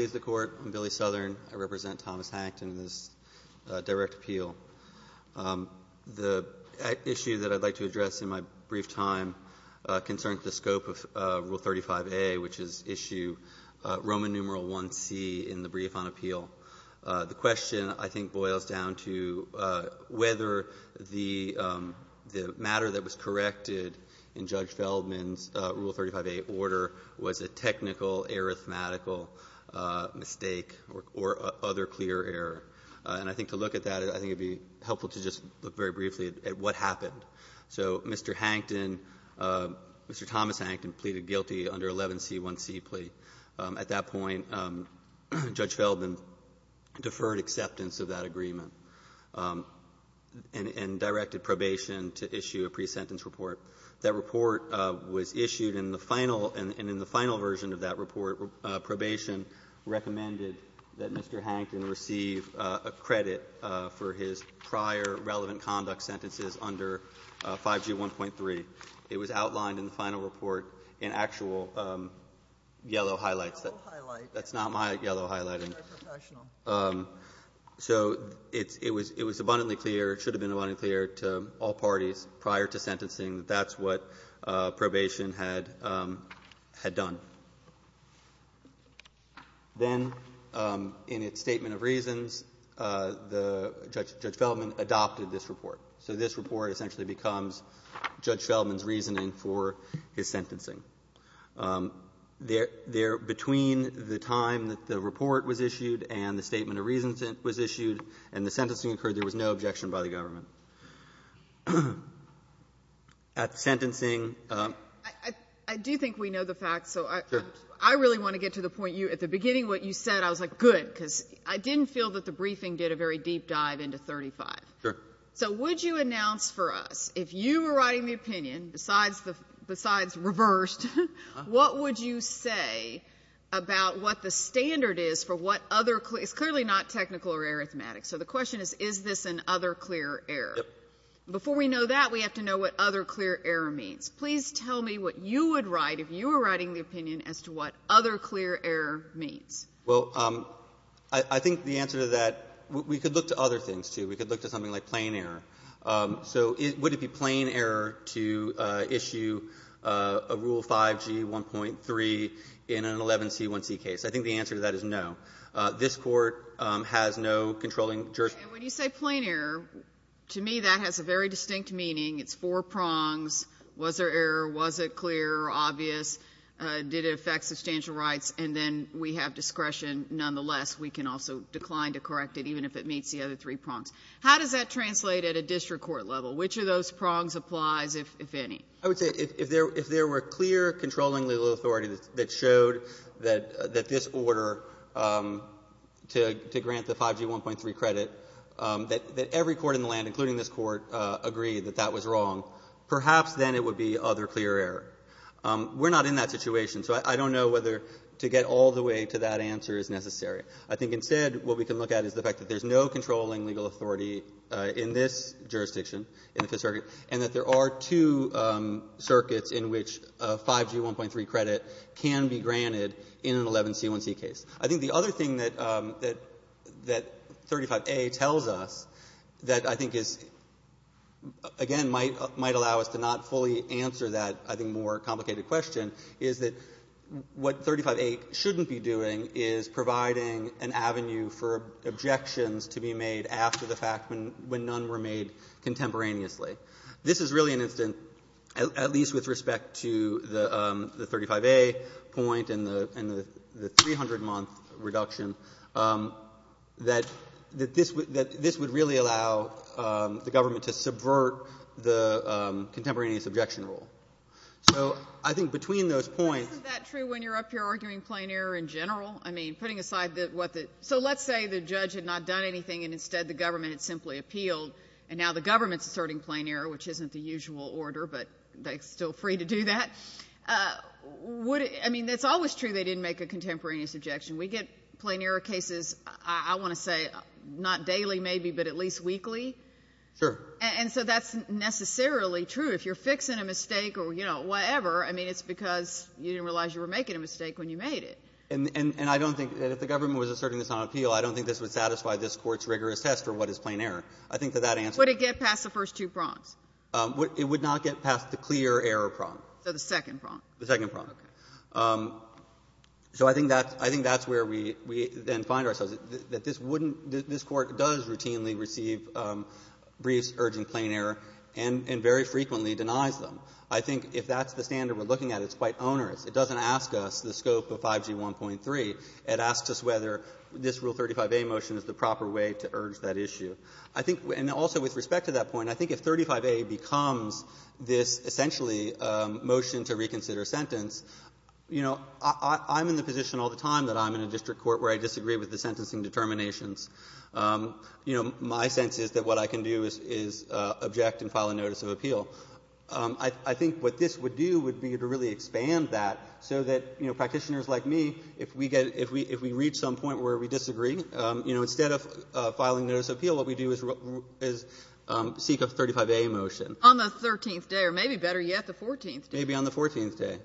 I'm Billy Southern. I represent Thomas Hankton in this direct appeal. The issue that I'd like to address in my brief time concerns the scope of Rule 35A, which is issue Roman numeral 1C in the brief on appeal. The question, I think, boils down to whether the matter that was corrected in Judge Feldman's Rule 35A order was a technical, arithmetical, mistake or other clear error. And I think to look at that, I think it would be helpful to just look very briefly at what happened. So Mr. Hankton, Mr. Thomas Hankton, pleaded guilty under 11C1C plea. At that point, Judge Feldman deferred acceptance of that agreement and directed probation to issue a pre-sentence report. That report was issued in the final version of that report. Probation recommended that Mr. Hankton receive a credit for his prior relevant conduct sentences under 5G1.3. It was outlined in the final report in actual yellow highlights. That's not my yellow highlight. So it was abundantly clear, it should have been clear to sentencing that that's what probation had done. Then in its statement of reasons, Judge Feldman adopted this report. So this report essentially becomes Judge Feldman's reasoning for his sentencing. Between the time that the report was issued and the statement of reasons that it was issued and the sentencing occurred, there was no objection by the government. At sentencing… I do think we know the facts, so I really want to get to the point. At the beginning what you said, I was like, good, because I didn't feel that the briefing did a very deep dive into 35. Sure. So would you announce for us, if you were writing the opinion, besides reversed, what would you say about what the standard is for what other… it's clearly not technical or arithmetic. So the question is, is this an other clear error? Before we know that, we have to know what other clear error means. Please tell me what you would write if you were writing the opinion as to what other clear error means. Well, I think the answer to that… we could look to other things, too. We could look to something like plain error. So would it be plain error to issue a Rule 5G1.3, which in an 11C1C case? I think the answer to that is no. This court has no controlling… And when you say plain error, to me that has a very distinct meaning. It's four prongs. Was there error? Was it clear or obvious? Did it affect substantial rights? And then we have discretion. Nonetheless, we can also decline to correct it, even if it meets the other three prongs. How does that translate at a district court level? Which of those prongs applies, if any? I would say if there were clear controlling legal authority that showed that this order to grant the 5G1.3 credit, that every court in the land, including this court, agreed that that was wrong, perhaps then it would be other clear error. We're not in that situation, so I don't know whether to get all the way to that answer is necessary. I think instead what we can look at is the fact that there's no controlling legal authority in this jurisdiction, in the Fifth Circuit, and that there are two circuits in which a 5G1.3 credit can be granted in an 11C1C case. I think the other thing that 35A tells us that I think is, again, might allow us to not fully answer that, I think, more complicated question is that what 35A shouldn't be doing is providing an avenue for objections to be made after the fact when none were made contemporaneously. This is really an instance, at least with respect to the 35A point and the 300-month reduction, that this would really allow the government to subvert the contemporaneous objection rule. I think between those points... Well, I mean, putting aside what the... So let's say the judge had not done anything and instead the government had simply appealed, and now the government's asserting plain error, which isn't the usual order, but they're still free to do that. I mean, it's always true they didn't make a contemporaneous objection. We get plain error cases, I want to say, not daily maybe, but at least weekly. Sure. And so that's necessarily true. If you're fixing a mistake or, you know, whatever, I mean, it's because you didn't realize you were making a mistake when you made it. And I don't think that if the government was asserting this on appeal, I don't think this would satisfy this Court's rigorous test for what is plain error. I think that that answer... Would it get past the first two prongs? It would not get past the clear error prong. So the second prong. The second prong. Okay. So I think that's where we then find ourselves, that this wouldn't — that this Court does routinely receive briefs urging plain error and very frequently denies them. I think if that's the standard we're looking at, it's quite onerous. It doesn't ask us the scope of 5G 1.3. It asks us whether this Rule 35a motion is the proper way to urge that issue. I think — and also with respect to that point, I think if 35a becomes this essentially motion to reconsider sentence, you know, I'm in the position all the time that I'm in a district court where I disagree with the sentencing determinations. You know, my sense is that what I can do is object and file a notice of appeal. I think what this would do would be to really expand that so that, you know, practitioners like me, if we get — if we reach some point where we disagree, you know, instead of filing a notice of appeal, what we do is seek a 35a motion. On the 13th day, or maybe better yet, the 14th day. Maybe on the 14th day.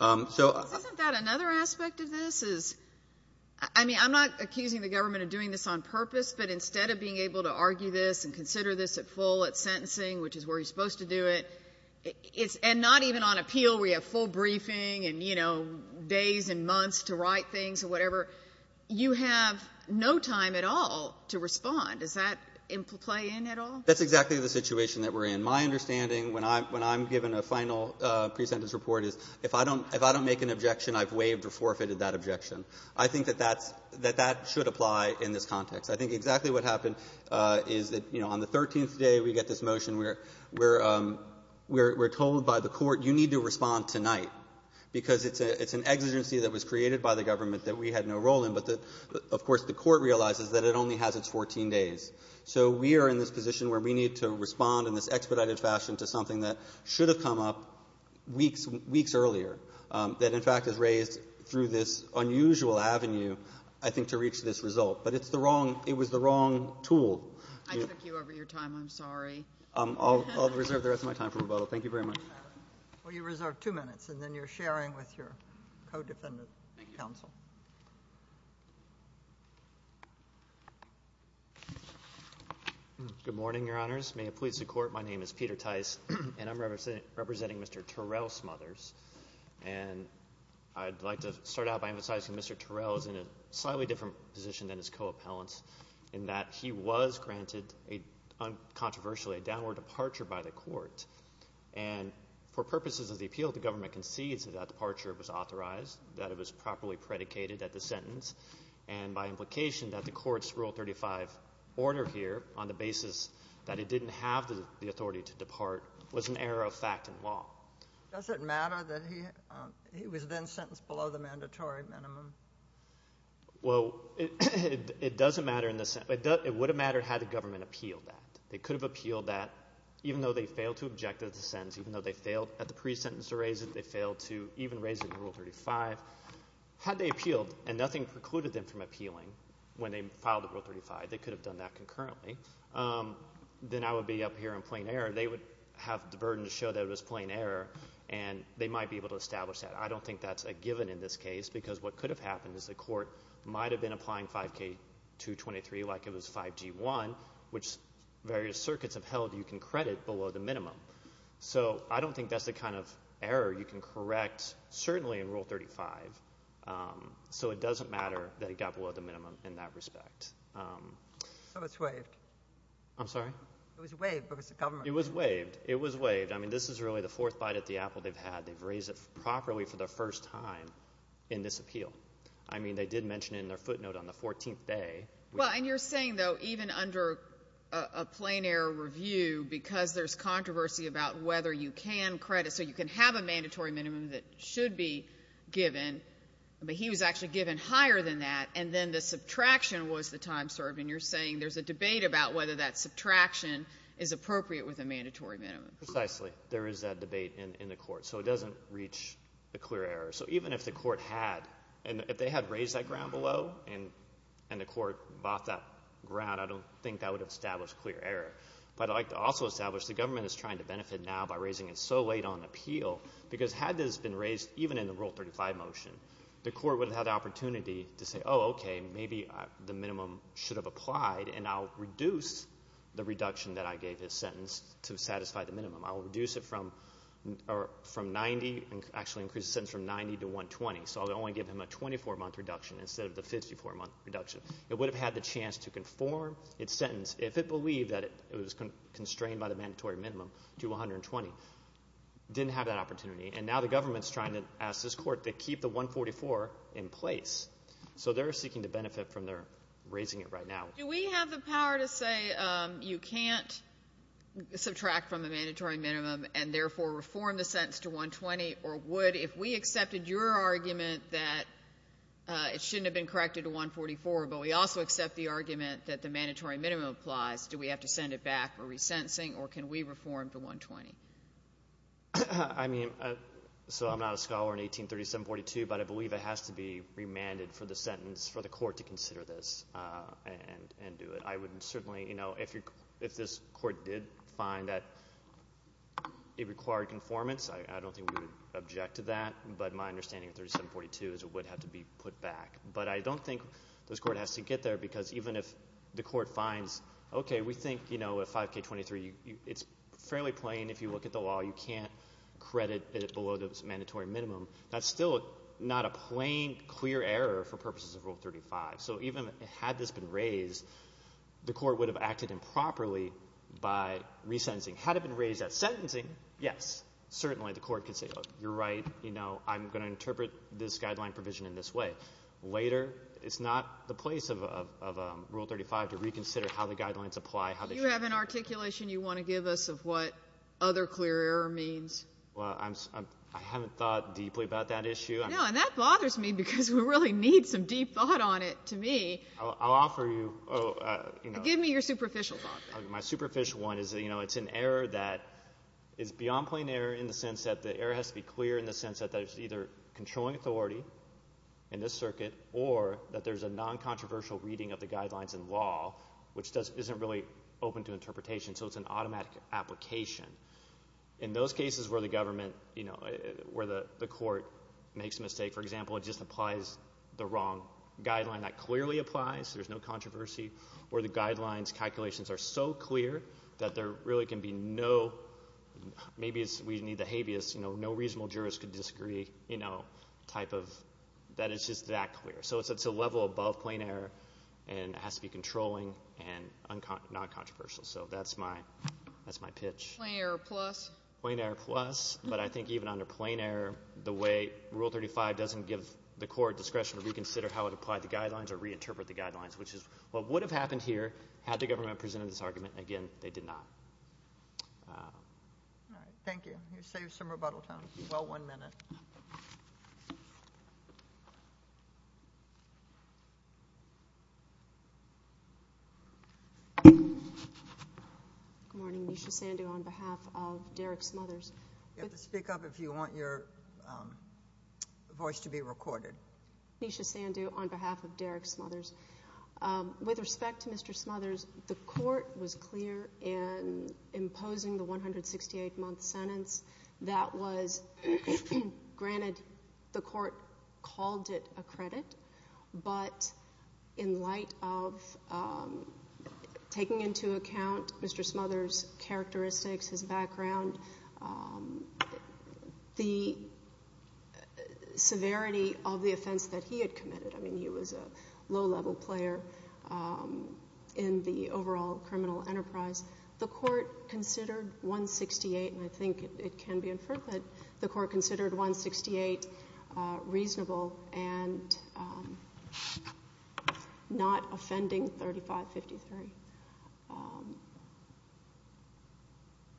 So — Isn't that another aspect of this? I mean, I'm not accusing the government of doing this on purpose, but instead of being able to argue this and consider this at full at the time that you're supposed to do it, it's — and not even on appeal where you have full briefing and, you know, days and months to write things or whatever. You have no time at all to respond. Does that play in at all? That's exactly the situation that we're in. My understanding, when I'm given a final pre-sentence report, is if I don't — if I don't make an objection, I've waived or forfeited that objection. I think that that's — that that should apply in this context. I think exactly what happened is that, you know, on the 13th day, we get this motion where we're told by the court, you need to respond tonight, because it's an exigency that was created by the government that we had no role in. But, of course, the court realizes that it only has its 14 days. So we are in this position where we need to respond in this expedited fashion to something that should have come up weeks earlier, that, in fact, is raised through this unusual avenue, I think, to reach this result. But it's the wrong — it was the wrong tool. I took you over your time. I'm sorry. I'll reserve the rest of my time for rebuttal. Thank you very much. Well, you reserve two minutes, and then you're sharing with your co-defendant counsel. Good morning, Your Honors. May it please the Court, my name is Peter Tice, and I'm representing Mr. Terrell's mother. And I'd like to start out by emphasizing Mr. Terrell is in a slightly different position than his co-appellants, in that he was granted, controversially, a downward departure by the court. And for purposes of the appeal, the government concedes that that departure was authorized, that it was properly predicated at the sentence, and by implication that the court's Rule 35 order here, on the basis that it didn't have the authority to depart, was an error of fact and law. Does it matter that he was then sentenced below the mandatory minimum? Well, it doesn't matter in the sense, it would have mattered had the government appealed that. They could have appealed that, even though they failed to object to the sentence, even though they failed at the pre-sentence to raise it, they failed to even raise it in Rule 35. Had they appealed, and nothing precluded them from appealing when they filed the Rule 35, they could have done that concurrently, then I would be up here in plain error. They would have the burden to show that it was plain error, and they might be able to establish that. I don't think that's a given in this case, because what could have happened is the court might have been applying 5K223 like it was 5G1, which various circuits have held you can credit below the minimum. So I don't think that's the kind of error you can correct, certainly in Rule 35. So it doesn't matter that it got below the minimum in that respect. So it's waived. I'm sorry? It was waived, but it was the government. It was waived. It was waived. I mean, this is really the fourth bite at the apple they've had. They've raised it properly for the first time in this appeal. I mean, they did mention it in their footnote on the 14th day. Well, and you're saying, though, even under a plain error review, because there's controversy about whether you can credit, so you can have a mandatory minimum that should be given, but he was actually given higher than that, and then the subtraction was the time served, and you're saying there's a debate about whether that subtraction is appropriate with a mandatory minimum. Precisely. There is that debate in the court. So it doesn't reach a clear error. So even if the court had, and if they had raised that ground below, and the court bought that ground, I don't think that would have established clear error, but I'd like to also establish the government is trying to benefit now by raising it so late on appeal, because had this been raised even in the Rule 35 motion, the court would have had the opportunity to say, oh, okay, maybe the minimum should have applied, and I'll reduce the reduction that I gave his sentence to satisfy the minimum. I'll reduce it from 90 and actually increase the sentence from 90 to 120, so I'll only give him a 24-month reduction instead of the 54-month reduction. It would have had the chance to conform its sentence, if it believed that it was constrained by the mandatory minimum, to 120. Didn't have that opportunity, and now the government's trying to ask this court to keep the 144 in place. So they're seeking to benefit from their raising it right now. Do we have the power to say you can't subtract from the mandatory minimum and therefore reform the sentence to 120, or would, if we accepted your argument that it shouldn't have been corrected to 144, but we also accept the argument that the mandatory minimum applies, do we have to send it back for resentencing, or can we reform to 120? I mean, so I'm not a scholar in 1837-42, but I believe it has to be remanded for the court to consider this and do it. I would certainly, you know, if this court did find that it required conformance, I don't think we would object to that, but my understanding of 37-42 is it would have to be put back. But I don't think this court has to get there because even if the court finds, okay, we think, you know, a 5K23, it's fairly plain if you look at the law. You can't credit it below the mandatory minimum. That's still not a plain, clear error for purposes of Rule 35. So even had this been raised, the court would have acted improperly by resentencing. Had it been raised at sentencing, yes, certainly the court could say, look, you're right, you know, I'm going to interpret this guideline provision in this way. Later, it's not the place of Rule 35 to reconsider how the guidelines apply. Do you have an articulation you want to give us of what other clear error means? Well, I haven't thought deeply about that issue. No, and that bothers me because we really need some deep thought on it to me. I'll offer you, you know. Give me your superficial thought. My superficial one is, you know, it's an error that is beyond plain error in the sense that the error has to be clear in the sense that there's either controlling authority in this circuit or that there's a non-controversial reading of the guidelines in law which isn't really open to interpretation, so it's an automatic application. In those cases where the government, you know, where the court makes a mistake, for example, it just applies the wrong guideline, that clearly applies, there's no controversy, where the guidelines' calculations are so clear that there really can be no, maybe we need the habeas, you know, no reasonable jurist could disagree, you know, type of, that it's just that clear. So it's a level above plain error and it has to be controlling and non-controversial, so that's my pitch. Plain error plus? Plain error plus, but I think even under plain error, the way Rule 35 doesn't give the court discretion to reconsider how it applied the guidelines or reinterpret the guidelines, which is what would have happened here had the government presented this argument, and again, they did not. All right, thank you. You saved some rebuttal time. Well, one minute. Good morning. Nisha Sandhu on behalf of Derek Smothers. You have to speak up if you want your voice to be recorded. Nisha Sandhu on behalf of Derek Smothers. With respect to Mr. Smothers, the court was granted, the court called it a credit, but in light of taking into account Mr. Smothers' characteristics, his background, the severity of the offense that he had committed, I mean, he was a low-level player in the overall criminal enterprise, the court considered 168, and I believe it was 168 reasonable and not offending 3553.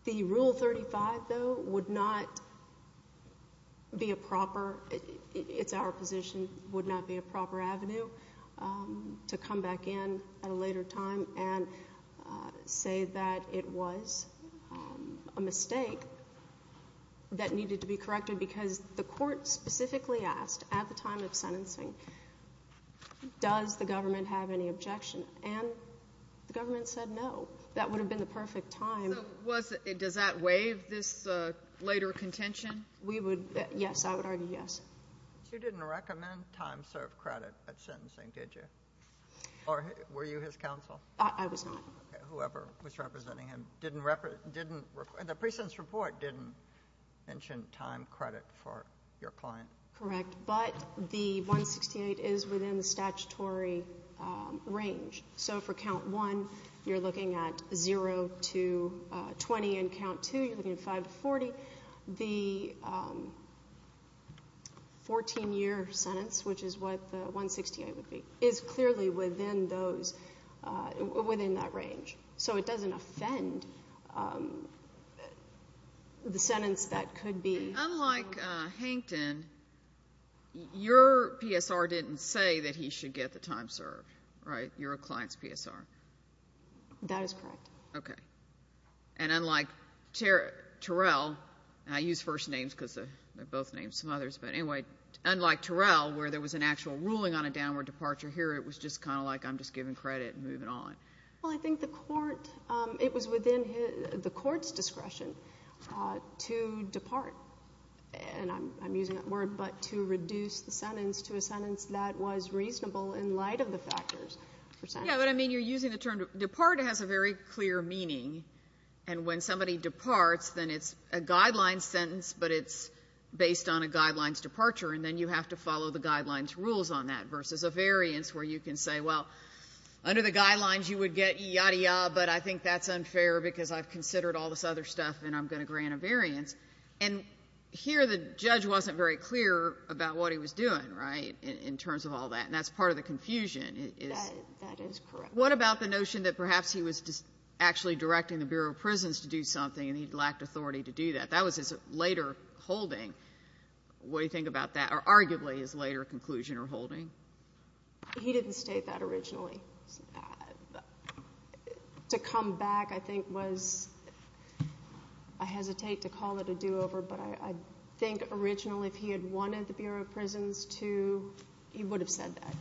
The Rule 35, though, would not be a proper, it's our position, would not be a proper avenue to come back in at a later time and say that it was a mistake that needed to be corrected because the court specifically asked at the time of sentencing, does the government have any objection? And the government said no. That would have been the perfect time. So was, does that waive this later contention? We would, yes, I would argue yes. You didn't recommend time-served credit at sentencing, did you? Or were you his counsel? I was not. Whoever was representing him didn't, the precinct's report didn't mention time credit for your client. Correct, but the 168 is within the statutory range. So for Count 1, you're looking at 0 to 20, and Count 2, you're looking at 5 to 40. The 14-year sentence, which is what the 168 would be, is clearly within those, within that range. So it doesn't offend the sentence that could be. Unlike Hankton, your PSR didn't say that he should get the time served, right? You're a client's PSR. That is correct. Okay. And unlike Terrell, and I use first names because they're both names, some others, but anyway, unlike Terrell, where there was an actual ruling on a downward departure here, it was just kind of like, I'm just giving credit and moving on. Well, I think the court, it was within the court's discretion to depart, and I'm using that word, but to reduce the sentence to a sentence that was reasonable in light of the factors. Yeah, but I mean, you're using the term, depart has a very clear meaning, and when somebody departs, then it's a guideline sentence, but it's based on a guideline's departure, and then you have to follow the guideline's rules on that, versus a variance, where you can say, well, under the guidelines, you would get yadda yadda, but I think that's unfair because I've considered all this other stuff, and I'm going to grant a variance. And here, the judge wasn't very clear about what he was doing, right, in terms of all that, and that's part of the confusion. That is correct. What about the notion that perhaps he was just actually directing the Bureau of Prisons to do something, and he lacked authority to do that? That was his later holding. What do you think about that, or arguably his later conclusion or holding? He didn't state that originally. To come back, I think, was, I hesitate to call it a do-over, but I think originally, if he had wanted the Bureau of Prisons to, he would have said that.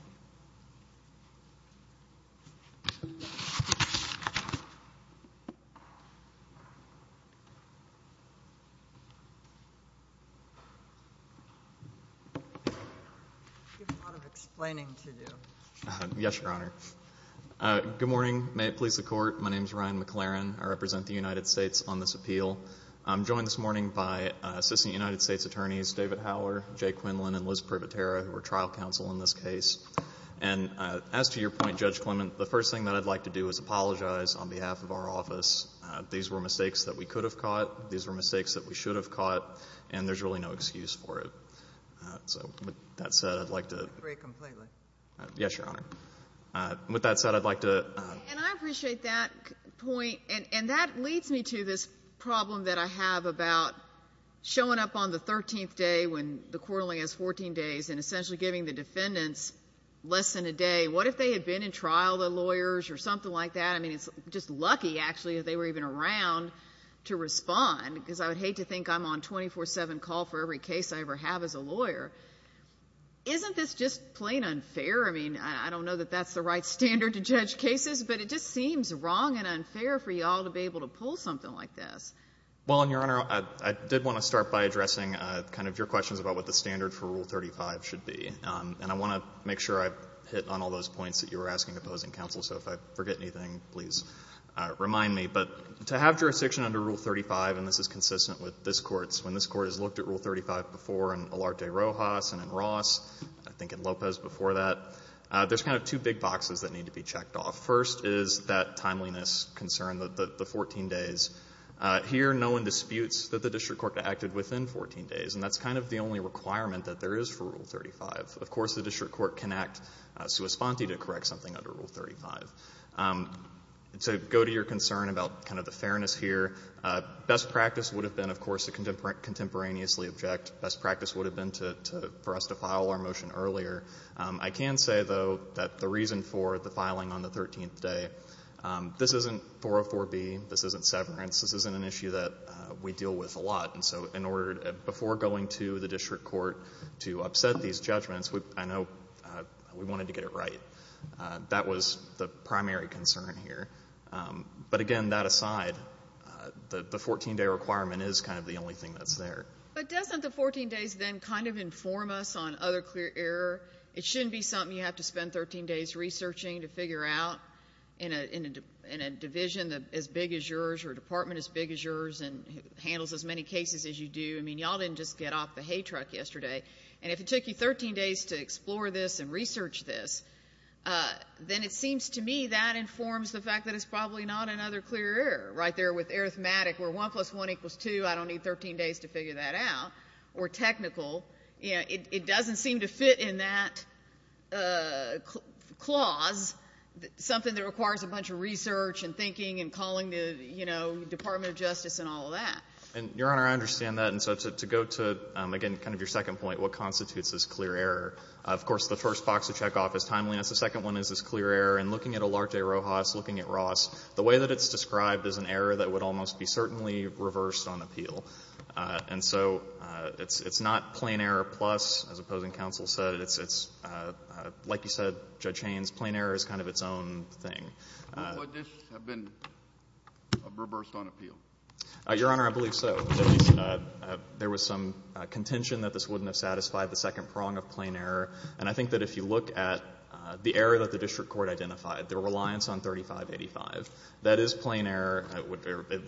I see a lot of explaining to do. Yes, Your Honor. Good morning. May it please the Court, my name is Ryan McLaren. I represent the United States on this appeal. I'm joined this morning by Assistant United States Attorneys David Howler, Jay Quinlan, and Liz Privatera, who are trial counsel in this case. And as to your point, Judge Clement, the first thing that I'd like to do is apologize on behalf of our office. These were mistakes that we could have caught. These were mistakes that we should have caught, and there's really no excuse for it. So, with that said, I'd like to— I agree completely. Yes, Your Honor. With that said, I'd like to— And I appreciate that point, and that leads me to this problem that I have about showing up on the 13th day when the court only has 14 days, and essentially giving the defendants less than a day. What if they had been in trial, the lawyers, or something like that? I mean, it's just lucky, actually, that they were even around to respond, because I would hate to think I'm on a 24-7 call for every case I ever have as a lawyer. Isn't this just plain unfair? I mean, I don't know that that's the right standard to judge cases, but it just seems wrong and unfair for you all to be able to pull something like this. Well, Your Honor, I did want to start by addressing kind of your questions about what the standard for Rule 35 should be. And I want to make sure I've hit on all those points that you were asking opposing counsel, so if I forget anything, please remind me. But to have jurisdiction under Rule 35, and this is consistent with this Court's, when this Court has looked at Rule 35 before in Olarte Rojas and in Ross, I think in Lopez before that, there's kind of two big boxes that need to be checked off. First is that timeliness concern, the 14 days. Here, no one disputes that the district court acted within 14 days, and that's kind of the only requirement that there is for Rule 35. Of course, the district court can act sua sponte to correct something under Rule 35. So go to your concern about kind of the fairness here. Best practice would have been, of course, to contemporaneously object. Best practice would have been for us to file our motion earlier. I can say, though, that the reason for the filing on the 13th day, this isn't 404B, this isn't severance, this isn't an issue that we deal with a lot. And so in order, before going to the district court to upset these judgments, I know we wanted to get it right. That was the primary concern here. But again, that aside, the 14-day requirement is kind of the only thing that's there. But doesn't the 14 days then kind of inform us on other clear error? It shouldn't be something you have to spend 13 days researching to figure out in a division as just get off the hay truck yesterday. And if it took you 13 days to explore this and research this, then it seems to me that informs the fact that it's probably not another clear error, right there with arithmetic, where 1 plus 1 equals 2, I don't need 13 days to figure that out. Or technical, it doesn't seem to fit in that clause, something that requires a bunch of research and thinking and calling the Department of Justice and all of that. And, Your Honor, I understand that. And so to go to, again, kind of your second point, what constitutes this clear error, of course, the first box to check off is timeliness. The second one is this clear error. And looking at Olarte Rojas, looking at Ross, the way that it's described is an error that would almost be certainly reversed on appeal. And so it's not plain error plus, as opposing counsel said, it's, like you said, Judge Haynes, plain error is kind of its own thing. Would this have been reversed on appeal? Your Honor, I believe so. There was some contention that this wouldn't have satisfied the second prong of plain error. And I think that if you look at the error that the district court identified, their reliance on 3585, that is plain error.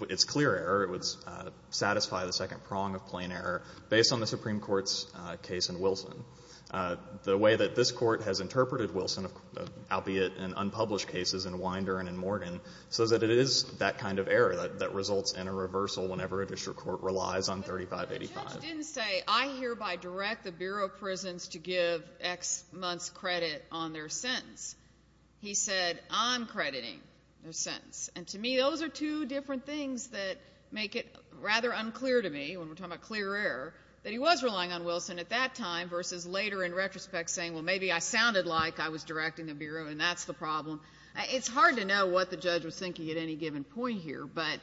It's clear error. It would satisfy the second prong of plain error based on the Supreme Court's case in Wilson. The way that this Court has interpreted Wilson, albeit in unpublished cases in Winder and in a reversal whenever a district court relies on 3585. But the judge didn't say, I hereby direct the Bureau of Prisons to give X months credit on their sentence. He said, I'm crediting their sentence. And to me, those are two different things that make it rather unclear to me, when we're talking about clear error, that he was relying on Wilson at that time versus later in retrospect saying, well, maybe I sounded like I was directing the Bureau and that's the problem. It's hard to know what the judge was thinking at any given point here. But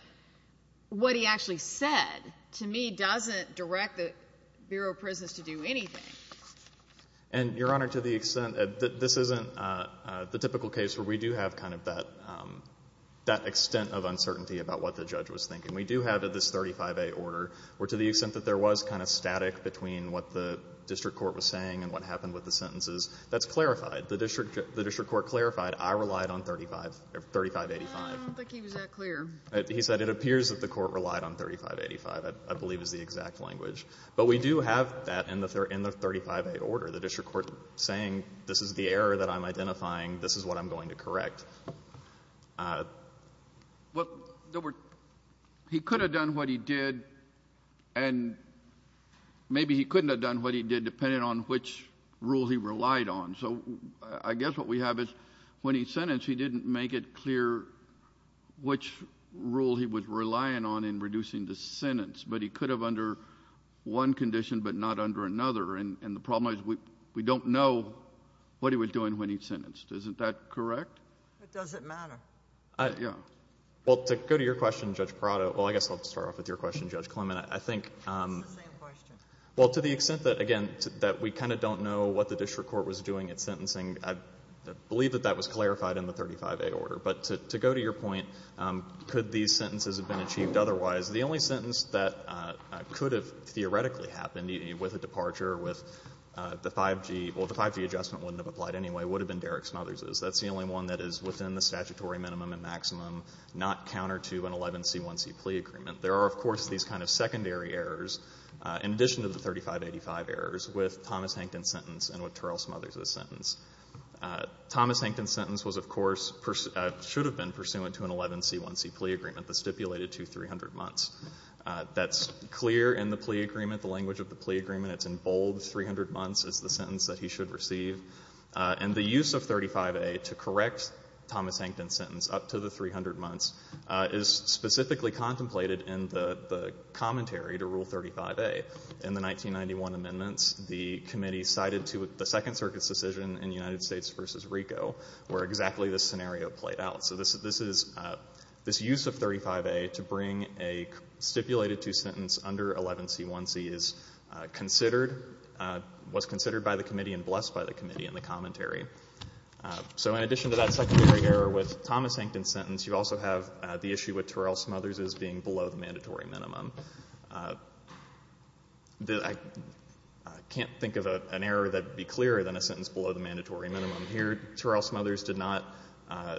what he actually said to me doesn't direct the Bureau of Prisons to do anything. And, Your Honor, to the extent that this isn't the typical case where we do have kind of that extent of uncertainty about what the judge was thinking. We do have this 35A order where to the extent that there was kind of static between what the district court was saying and what happened with the sentences, that's clarified. The district court clarified, I relied on 3585. I don't think he was that clear. He said it appears that the court relied on 3585, I believe is the exact language. But we do have that in the 35A order, the district court saying this is the error that I'm identifying, this is what I'm going to correct. Well, he could have done what he did and maybe he couldn't have done what he did depending on which rule he relied on. So I guess what we have is when he sentenced, he didn't make it clear which rule he was relying on in reducing the sentence, but he could have under one condition but not under another. And the problem is we don't know what he was doing when he sentenced. Isn't that correct? It doesn't matter. Yeah. Well, to go to your question, Judge Parato, well, I guess I'll start off with your question, Judge Clement. I think... It's the same question. Well, to the extent that, again, that we kind of don't know what the district court was doing at sentencing, I believe that that was clarified in the 35A order. But to go to your point, could these sentences have been achieved otherwise, the only sentence that could have theoretically happened with a departure with the 5G, well, the 5G adjustment wouldn't have applied anyway, would have been Derek Smothers's. That's the only one that is within the statutory minimum and maximum, not counter to an 11C1C plea agreement. There are, of course, these kind of secondary errors in addition to the 3585 errors with Thomas Hankin's sentence and with Charles Smothers's sentence. Thomas Hankin's sentence was, of course, should have been pursuant to an 11C1C plea agreement that's stipulated to 300 months. That's clear in the plea agreement, the language of the plea agreement. It's in bold, 300 months is the sentence that he should receive. And the use of 35A to correct Thomas Hankin's sentence up to the 300 months is specifically contemplated in the commentary to Rule 35A. In the 1991 amendments, the committee cited the Second Circuit's decision in United States v. RICO where exactly this scenario played out. So this use of 35A to bring a stipulated to sentence under 11C1C was considered by the committee and blessed by the committee in the commentary. So in addition to that secondary error with Thomas Hankin's sentence, you also have the issue with Terrell Smothers's being below the mandatory minimum. Here, Terrell Smothers did not,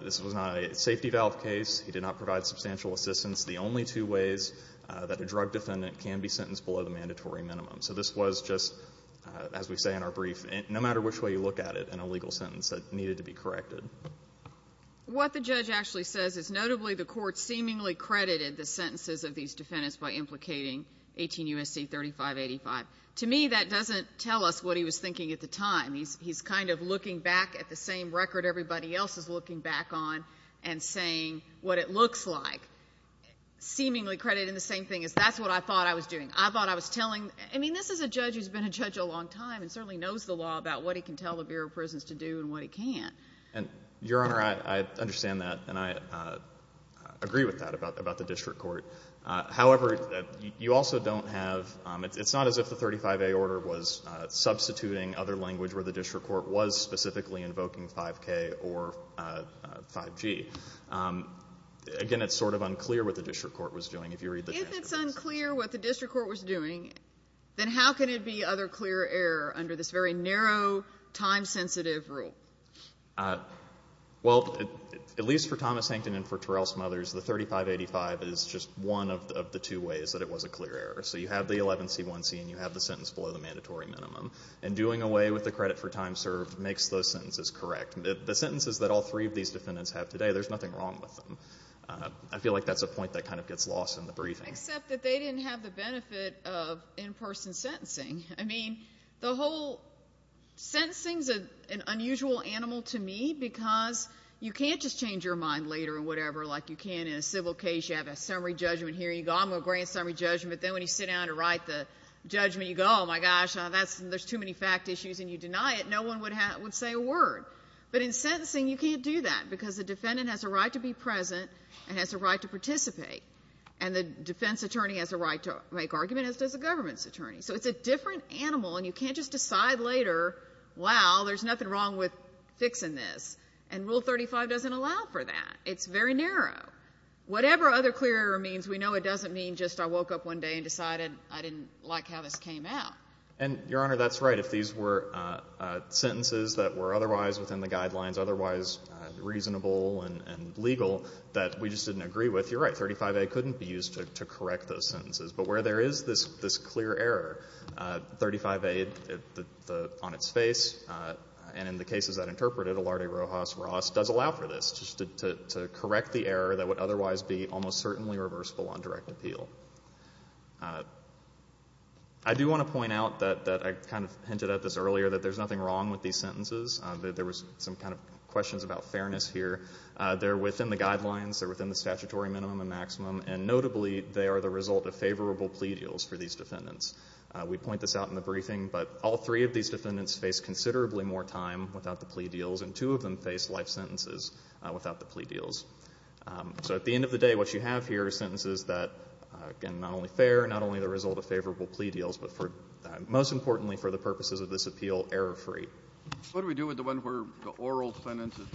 this was not a safety valve case. He did not provide substantial assistance. The only two ways that a drug defendant can be sentenced below the mandatory minimum. So this was just, as we say in our brief, no matter which way you look at it in a legal sentence, it needed to be corrected. What the judge actually says is notably the court seemingly credited the sentences of these defendants by implicating 18 U.S.C. 3585. To me, that doesn't tell us what he was thinking at the time. He's kind of looking back at the same record everybody else is looking back on and saying what it looks like. Seemingly credited in the same thing as that's what I thought I was doing. I thought I was telling, I mean, this is a judge who's been a judge a long time and certainly knows the law about what he can tell the Bureau of Prisons to do and what he can't. Your Honor, I understand that and I agree with that about the 35A order was substituting other language where the district court was specifically invoking 5K or 5G. Again, it's sort of unclear what the district court was doing, if you read the transcripts. If it's unclear what the district court was doing, then how can it be other clear error under this very narrow, time-sensitive rule? Well, at least for Thomas Hankin and for Terrell Smothers, the 3585 is just one of the two ways that it was a clear error. So you have the 11C1C and you have the sentence below the mandatory minimum. And doing away with the credit for time served makes those sentences correct. The sentences that all three of these defendants have today, there's nothing wrong with them. I feel like that's a point that kind of gets lost in the briefing. Except that they didn't have the benefit of in-person sentencing. I mean, the whole sentencing's an unusual animal to me because you can't just change your mind later or whatever, like you can in a civil case, you have a summary judgment here, you go, I'm going to grant summary judgment, then when you sit down to write the judgment, you go, oh my gosh, there's too many fact issues and you deny it, no one would say a word. But in sentencing, you can't do that because the defendant has a right to be present and has a right to participate. And the defense attorney has a right to make arguments as does the government's attorney. So it's a different animal and you can't just decide later, wow, there's nothing wrong with fixing this. And Rule 35 doesn't allow for that. It's very narrow. Whatever other clear error means, we know it doesn't mean I woke up one day and decided I didn't like how this came out. And Your Honor, that's right. If these were sentences that were otherwise within the guidelines, otherwise reasonable and legal, that we just didn't agree with, you're right, 35A couldn't be used to correct those sentences. But where there is this clear error, 35A on its face and in the cases that interpreted, Olarte, Rojas, Ross, does allow for this, just to correct the error that would otherwise be reversible on direct appeal. I do want to point out that I kind of hinted at this earlier, that there's nothing wrong with these sentences. There was some kind of questions about fairness here. They're within the guidelines, they're within the statutory minimum and maximum, and notably, they are the result of favorable plea deals for these defendants. We point this out in the briefing, but all three of these defendants face considerably more time without the plea deals and two of them face life sentences without the plea deals. So at the end of the day, what you have here are sentences that, again, not only fair, not only the result of favorable plea deals, but most importantly, for the purposes of this appeal, error-free. What do we do with the one where the oral sentence is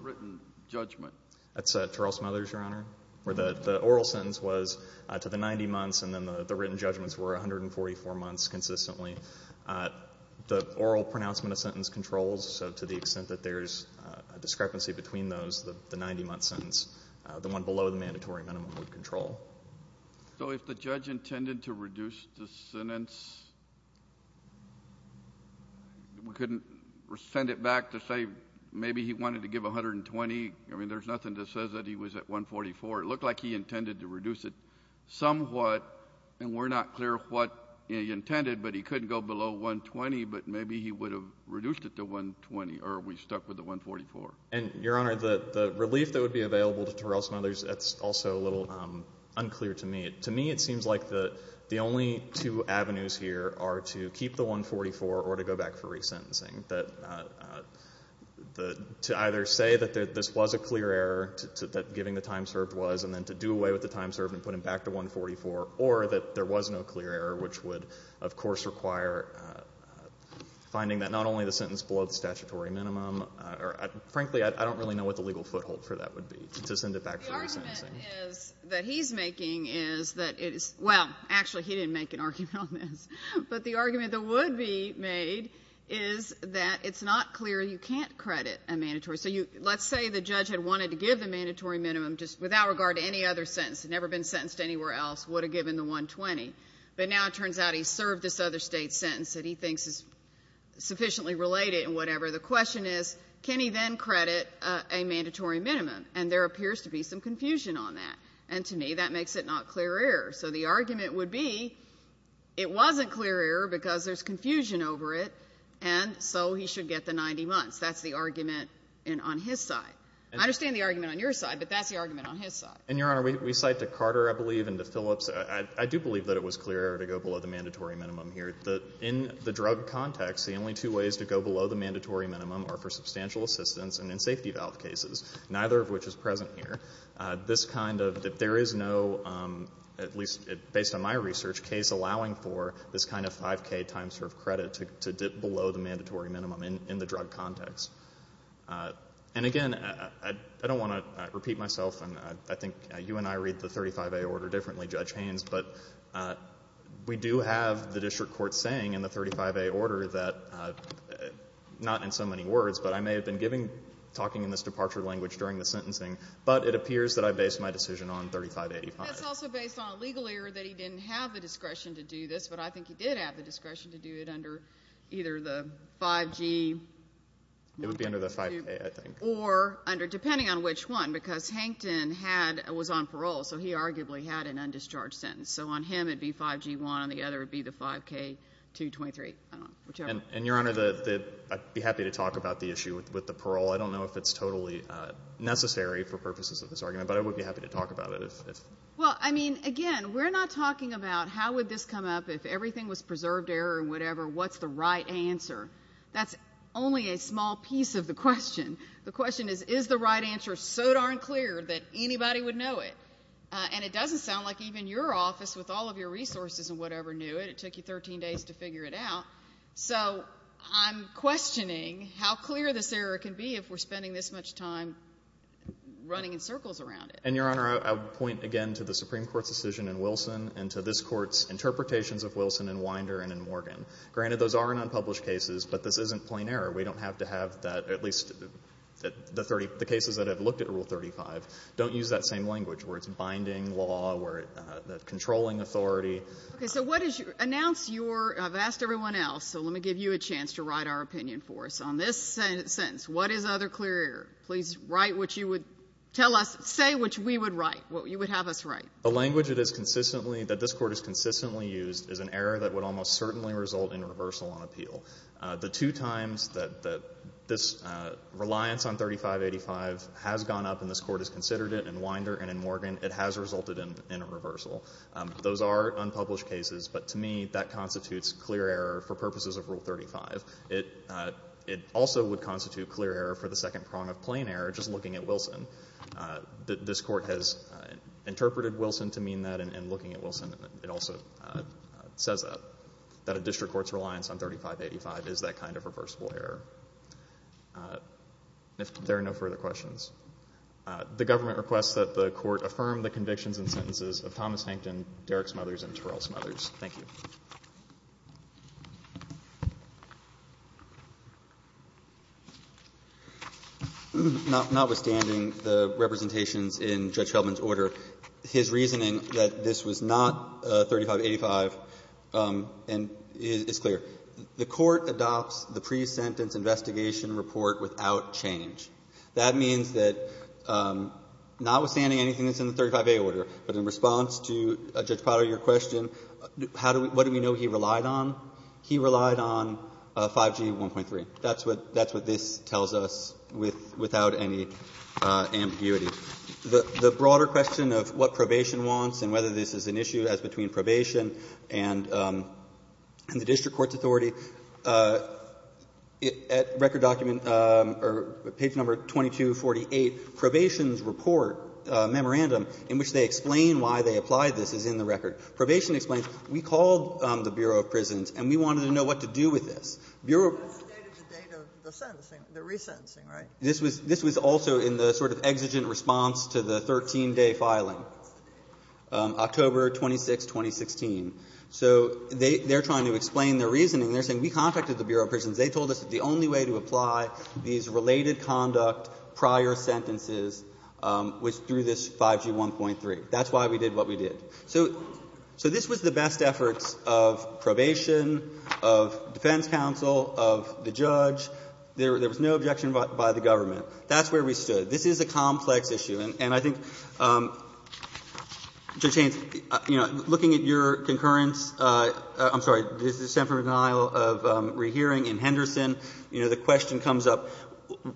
written judgment? That's Charles Mothers, Your Honor, where the oral sentence was to the 90 months and then the written judgments were 144 months consistently. The oral pronouncement of sentence controls, so to the extent that there's a discrepancy between those, the 90-month sentence, the one below the mandatory minimum would control. So if the judge intended to reduce the sentence, we couldn't send it back to say maybe he wanted to give 120? I mean, there's nothing that says that he was at 144. It looked like he intended to reduce it somewhat, and we're not clear what he intended, but he couldn't go below 120, but maybe he would have reduced it to 120 or we stuck with the 144. And, Your Honor, the relief that would be available to Terrell's Mothers, that's also a little unclear to me. To me, it seems like the only two avenues here are to keep the 144 or to go back for resentencing, to either say that this was a clear error, that giving the time served was, and then to do away with the time served and put him back to 144, or that there was no clear error, which would, of course, require finding that not only the sentence below the mandatory minimum, frankly, I don't really know what the legal foothold for that would be, to send it back for resentencing. The argument that he's making is that it is, well, actually, he didn't make an argument on this, but the argument that would be made is that it's not clear you can't credit a mandatory. So let's say the judge had wanted to give the mandatory minimum just without regard to any other sentence, never been sentenced anywhere else, would have given the 120, but now it turns out he served this other state sentence that he couldn't credit a mandatory minimum, and there appears to be some confusion on that. And to me, that makes it not clear error. So the argument would be it wasn't clear error because there's confusion over it, and so he should get the 90 months. That's the argument on his side. I understand the argument on your side, but that's the argument on his side. And, Your Honor, we cite to Carter, I believe, and to Phillips. I do believe that it was clear error to go below the mandatory minimum here. In the drug context, the only two are for substantial assistance and in safety valve cases, neither of which is present here. This kind of, there is no, at least based on my research, case allowing for this kind of 5K time served credit to dip below the mandatory minimum in the drug context. And, again, I don't want to repeat myself, and I think you and I read the 35A order differently, Judge Haynes, but we do have the district court saying in the 35A order that I, not in so many words, but I may have been giving, talking in this departure language during the sentencing, but it appears that I based my decision on 3585. That's also based on a legal error that he didn't have the discretion to do this, but I think he did have the discretion to do it under either the 5G. It would be under the 5K, I think. Or under, depending on which one, because Hankton had, was on parole, so he arguably had an undischarged sentence. So on him it would be 5G1, on the other it would be the 5K223, I don't know, whichever. And, Your Honor, I'd be happy to talk about the issue with the parole. I don't know if it's totally necessary for purposes of this argument, but I would be happy to talk about it. Well, I mean, again, we're not talking about how would this come up if everything was preserved error and whatever, what's the right answer? That's only a small piece of the question. The question is, is the right answer so darn clear that anybody would know it? And it doesn't sound like even your office, with all of your resources and whatever, knew it. It took you 13 days to figure it out. So I'm questioning how clear this error can be if we're spending this much time running in circles around it. And, Your Honor, I would point, again, to the Supreme Court's decision in Wilson and to this Court's interpretations of Wilson in Winder and in Morgan. Granted, those are in unpublished cases, but this isn't plain error. We don't have to have that, at least the cases that have looked at Rule 35, don't use that same language, where it's binding law, where it's controlling authority. Okay. So what is your, announce your, I've asked everyone else, so let me give you a chance to write our opinion for us on this sentence. What is other clear error? Please write what you would tell us, say what we would write, what you would have us write. The language it is consistently, that this Court has consistently used, is an error that would almost certainly result in reversal on appeal. The two times that this reliance on 3585 has gone up and this Court has considered it, in Winder and in Morgan, it has resulted in a reversal. Those are unpublished cases, but to me, that constitutes clear error for purposes of Rule 35. It also would constitute clear error for the second prong of plain error, just looking at Wilson. This Court has interpreted Wilson to mean that, and looking at Wilson, it also says that, that a district court's reliance on 3585 is that kind of reversible error. If there are no further questions. The Government requests that the Court affirm the convictions and sentences of Thomas Hankton, Derrick's mothers, and Terrell's mothers. Thank you. Notwithstanding the representations in Judge Feldman's order, his reasoning that this was not 3585 is clear. The Court adopts the pre-sentence investigation report without change. That means that, notwithstanding anything that's in the 35A order, but in response to Judge Potter, your question, what do we know he relied on? He relied on 5G 1.3. That's what this tells us without any ambiguity. The broader question of what probation wants and whether this is an issue as between 2248, probation's report, memorandum, in which they explain why they applied this, is in the record. Probation explains, we called the Bureau of Prisons and we wanted to know what to do with this. Bureau of Prisons also in the sort of exigent response to the 13-day filing. October 26, 2016. So they're trying to explain their reasoning. They're saying, we contacted the Bureau of Prisons. They told us the only way to apply these related conduct prior sentences was through this 5G 1.3. That's why we did what we did. So this was the best efforts of probation, of defense counsel, of the judge. There was no objection by the government. That's where we stood. This is a complex issue. And I think, Judge Haynes, you know, looking at your concurrence, I'm sorry, the extent of rehearing in Henderson, you know, the question comes up,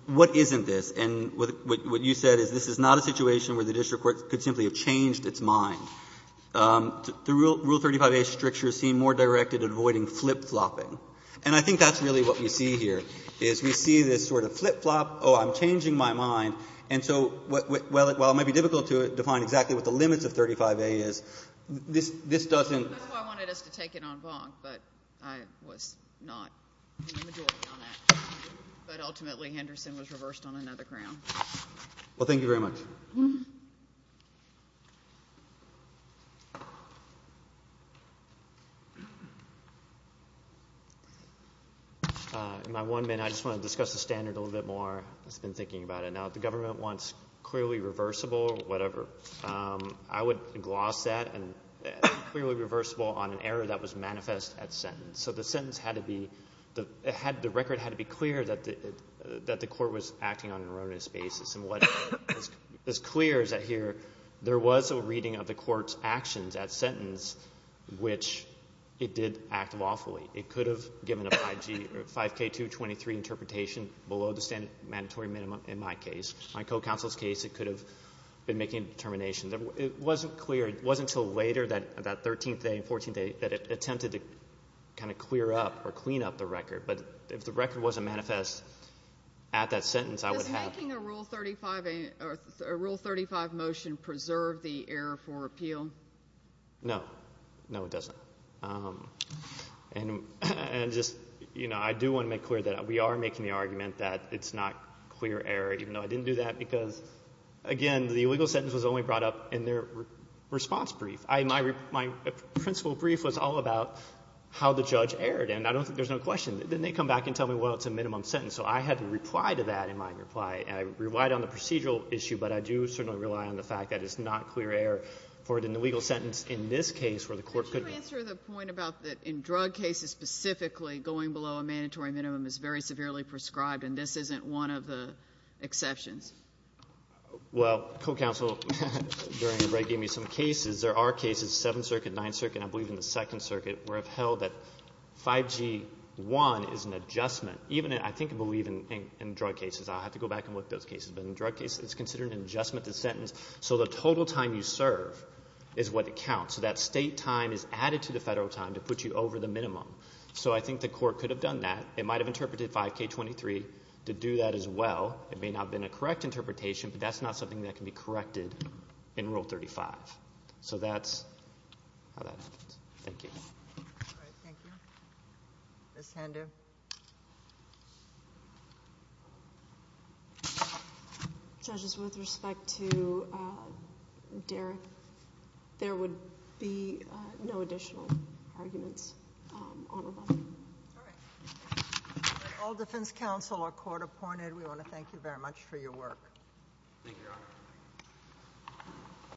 what isn't this? And what you said is, this is not a situation where the district court could simply have changed its mind. The Rule 35a strictures seem more directed at avoiding flip-flopping. And I think that's really what we see here, is we see this sort of flip-flop, oh, I'm changing my mind. And so while it might be difficult to define exactly what the limits of 35a is, this doesn't That's why I wanted us to take it on bond. But I was not in the majority on that. But ultimately, Henderson was reversed on another ground. Well, thank you very much. In my one minute, I just want to discuss the standard a little bit more. I've been thinking about it. Now, if the government wants clearly reversible, whatever, I would gloss that and clearly reversible on an error that was manifest at sentence. So the sentence had to be, the record had to be clear that the court was acting on an erroneous basis. And what is clear is that here, there was a reading of the court's actions at sentence, which it did act lawfully. It could have given a 5K223 interpretation below the standard mandatory minimum in my case. My co-counsel's case, it could have been making determinations. It wasn't clear. It wasn't until later, that 13th day and 14th day, that it attempted to kind of clear up or clean up the record. But if the record wasn't manifest at that sentence, I would have— Does making a Rule 35 motion preserve the error for appeal? No. No, it doesn't. And just, you know, I do want to make clear that we are making the argument that it's not clear error, even though I didn't do that. Because, again, the legal sentence was only brought up in their response brief. My principal brief was all about how the judge erred, and I don't think there's no question. Then they come back and tell me, well, it's a minimum sentence. So I had to reply to that in my reply. And I relied on the procedural issue, but I do certainly rely on the fact that it's not clear error for the legal sentence in this case, where the court could— Could you answer the point about that in drug cases specifically, going below a mandatory minimum is very severely prescribed, and this isn't one of the exceptions? Well, co-counsel during the break gave me some cases. There are cases, Seventh Circuit, Ninth Circuit, I believe in the Second Circuit, where I've held that 5G-1 is an adjustment. Even I think I believe in drug cases. I'll have to go back and look at those cases. But in drug cases, it's considered an adjustment to sentence. So the total time you serve is what it counts. So that state time is added to the federal time to put you over the minimum. So I think the court could have done that. It might have interpreted 5K-23 to do that as well. It may not have been a correct interpretation, but that's not something that can be corrected in Rule 35. So that's how that happens. Thank you. All right. Thank you. Ms. Hando. Judges, with respect to Derek, there would be no additional arguments. All right. All defense counsel are court-appointed. We want to thank you very much for your work.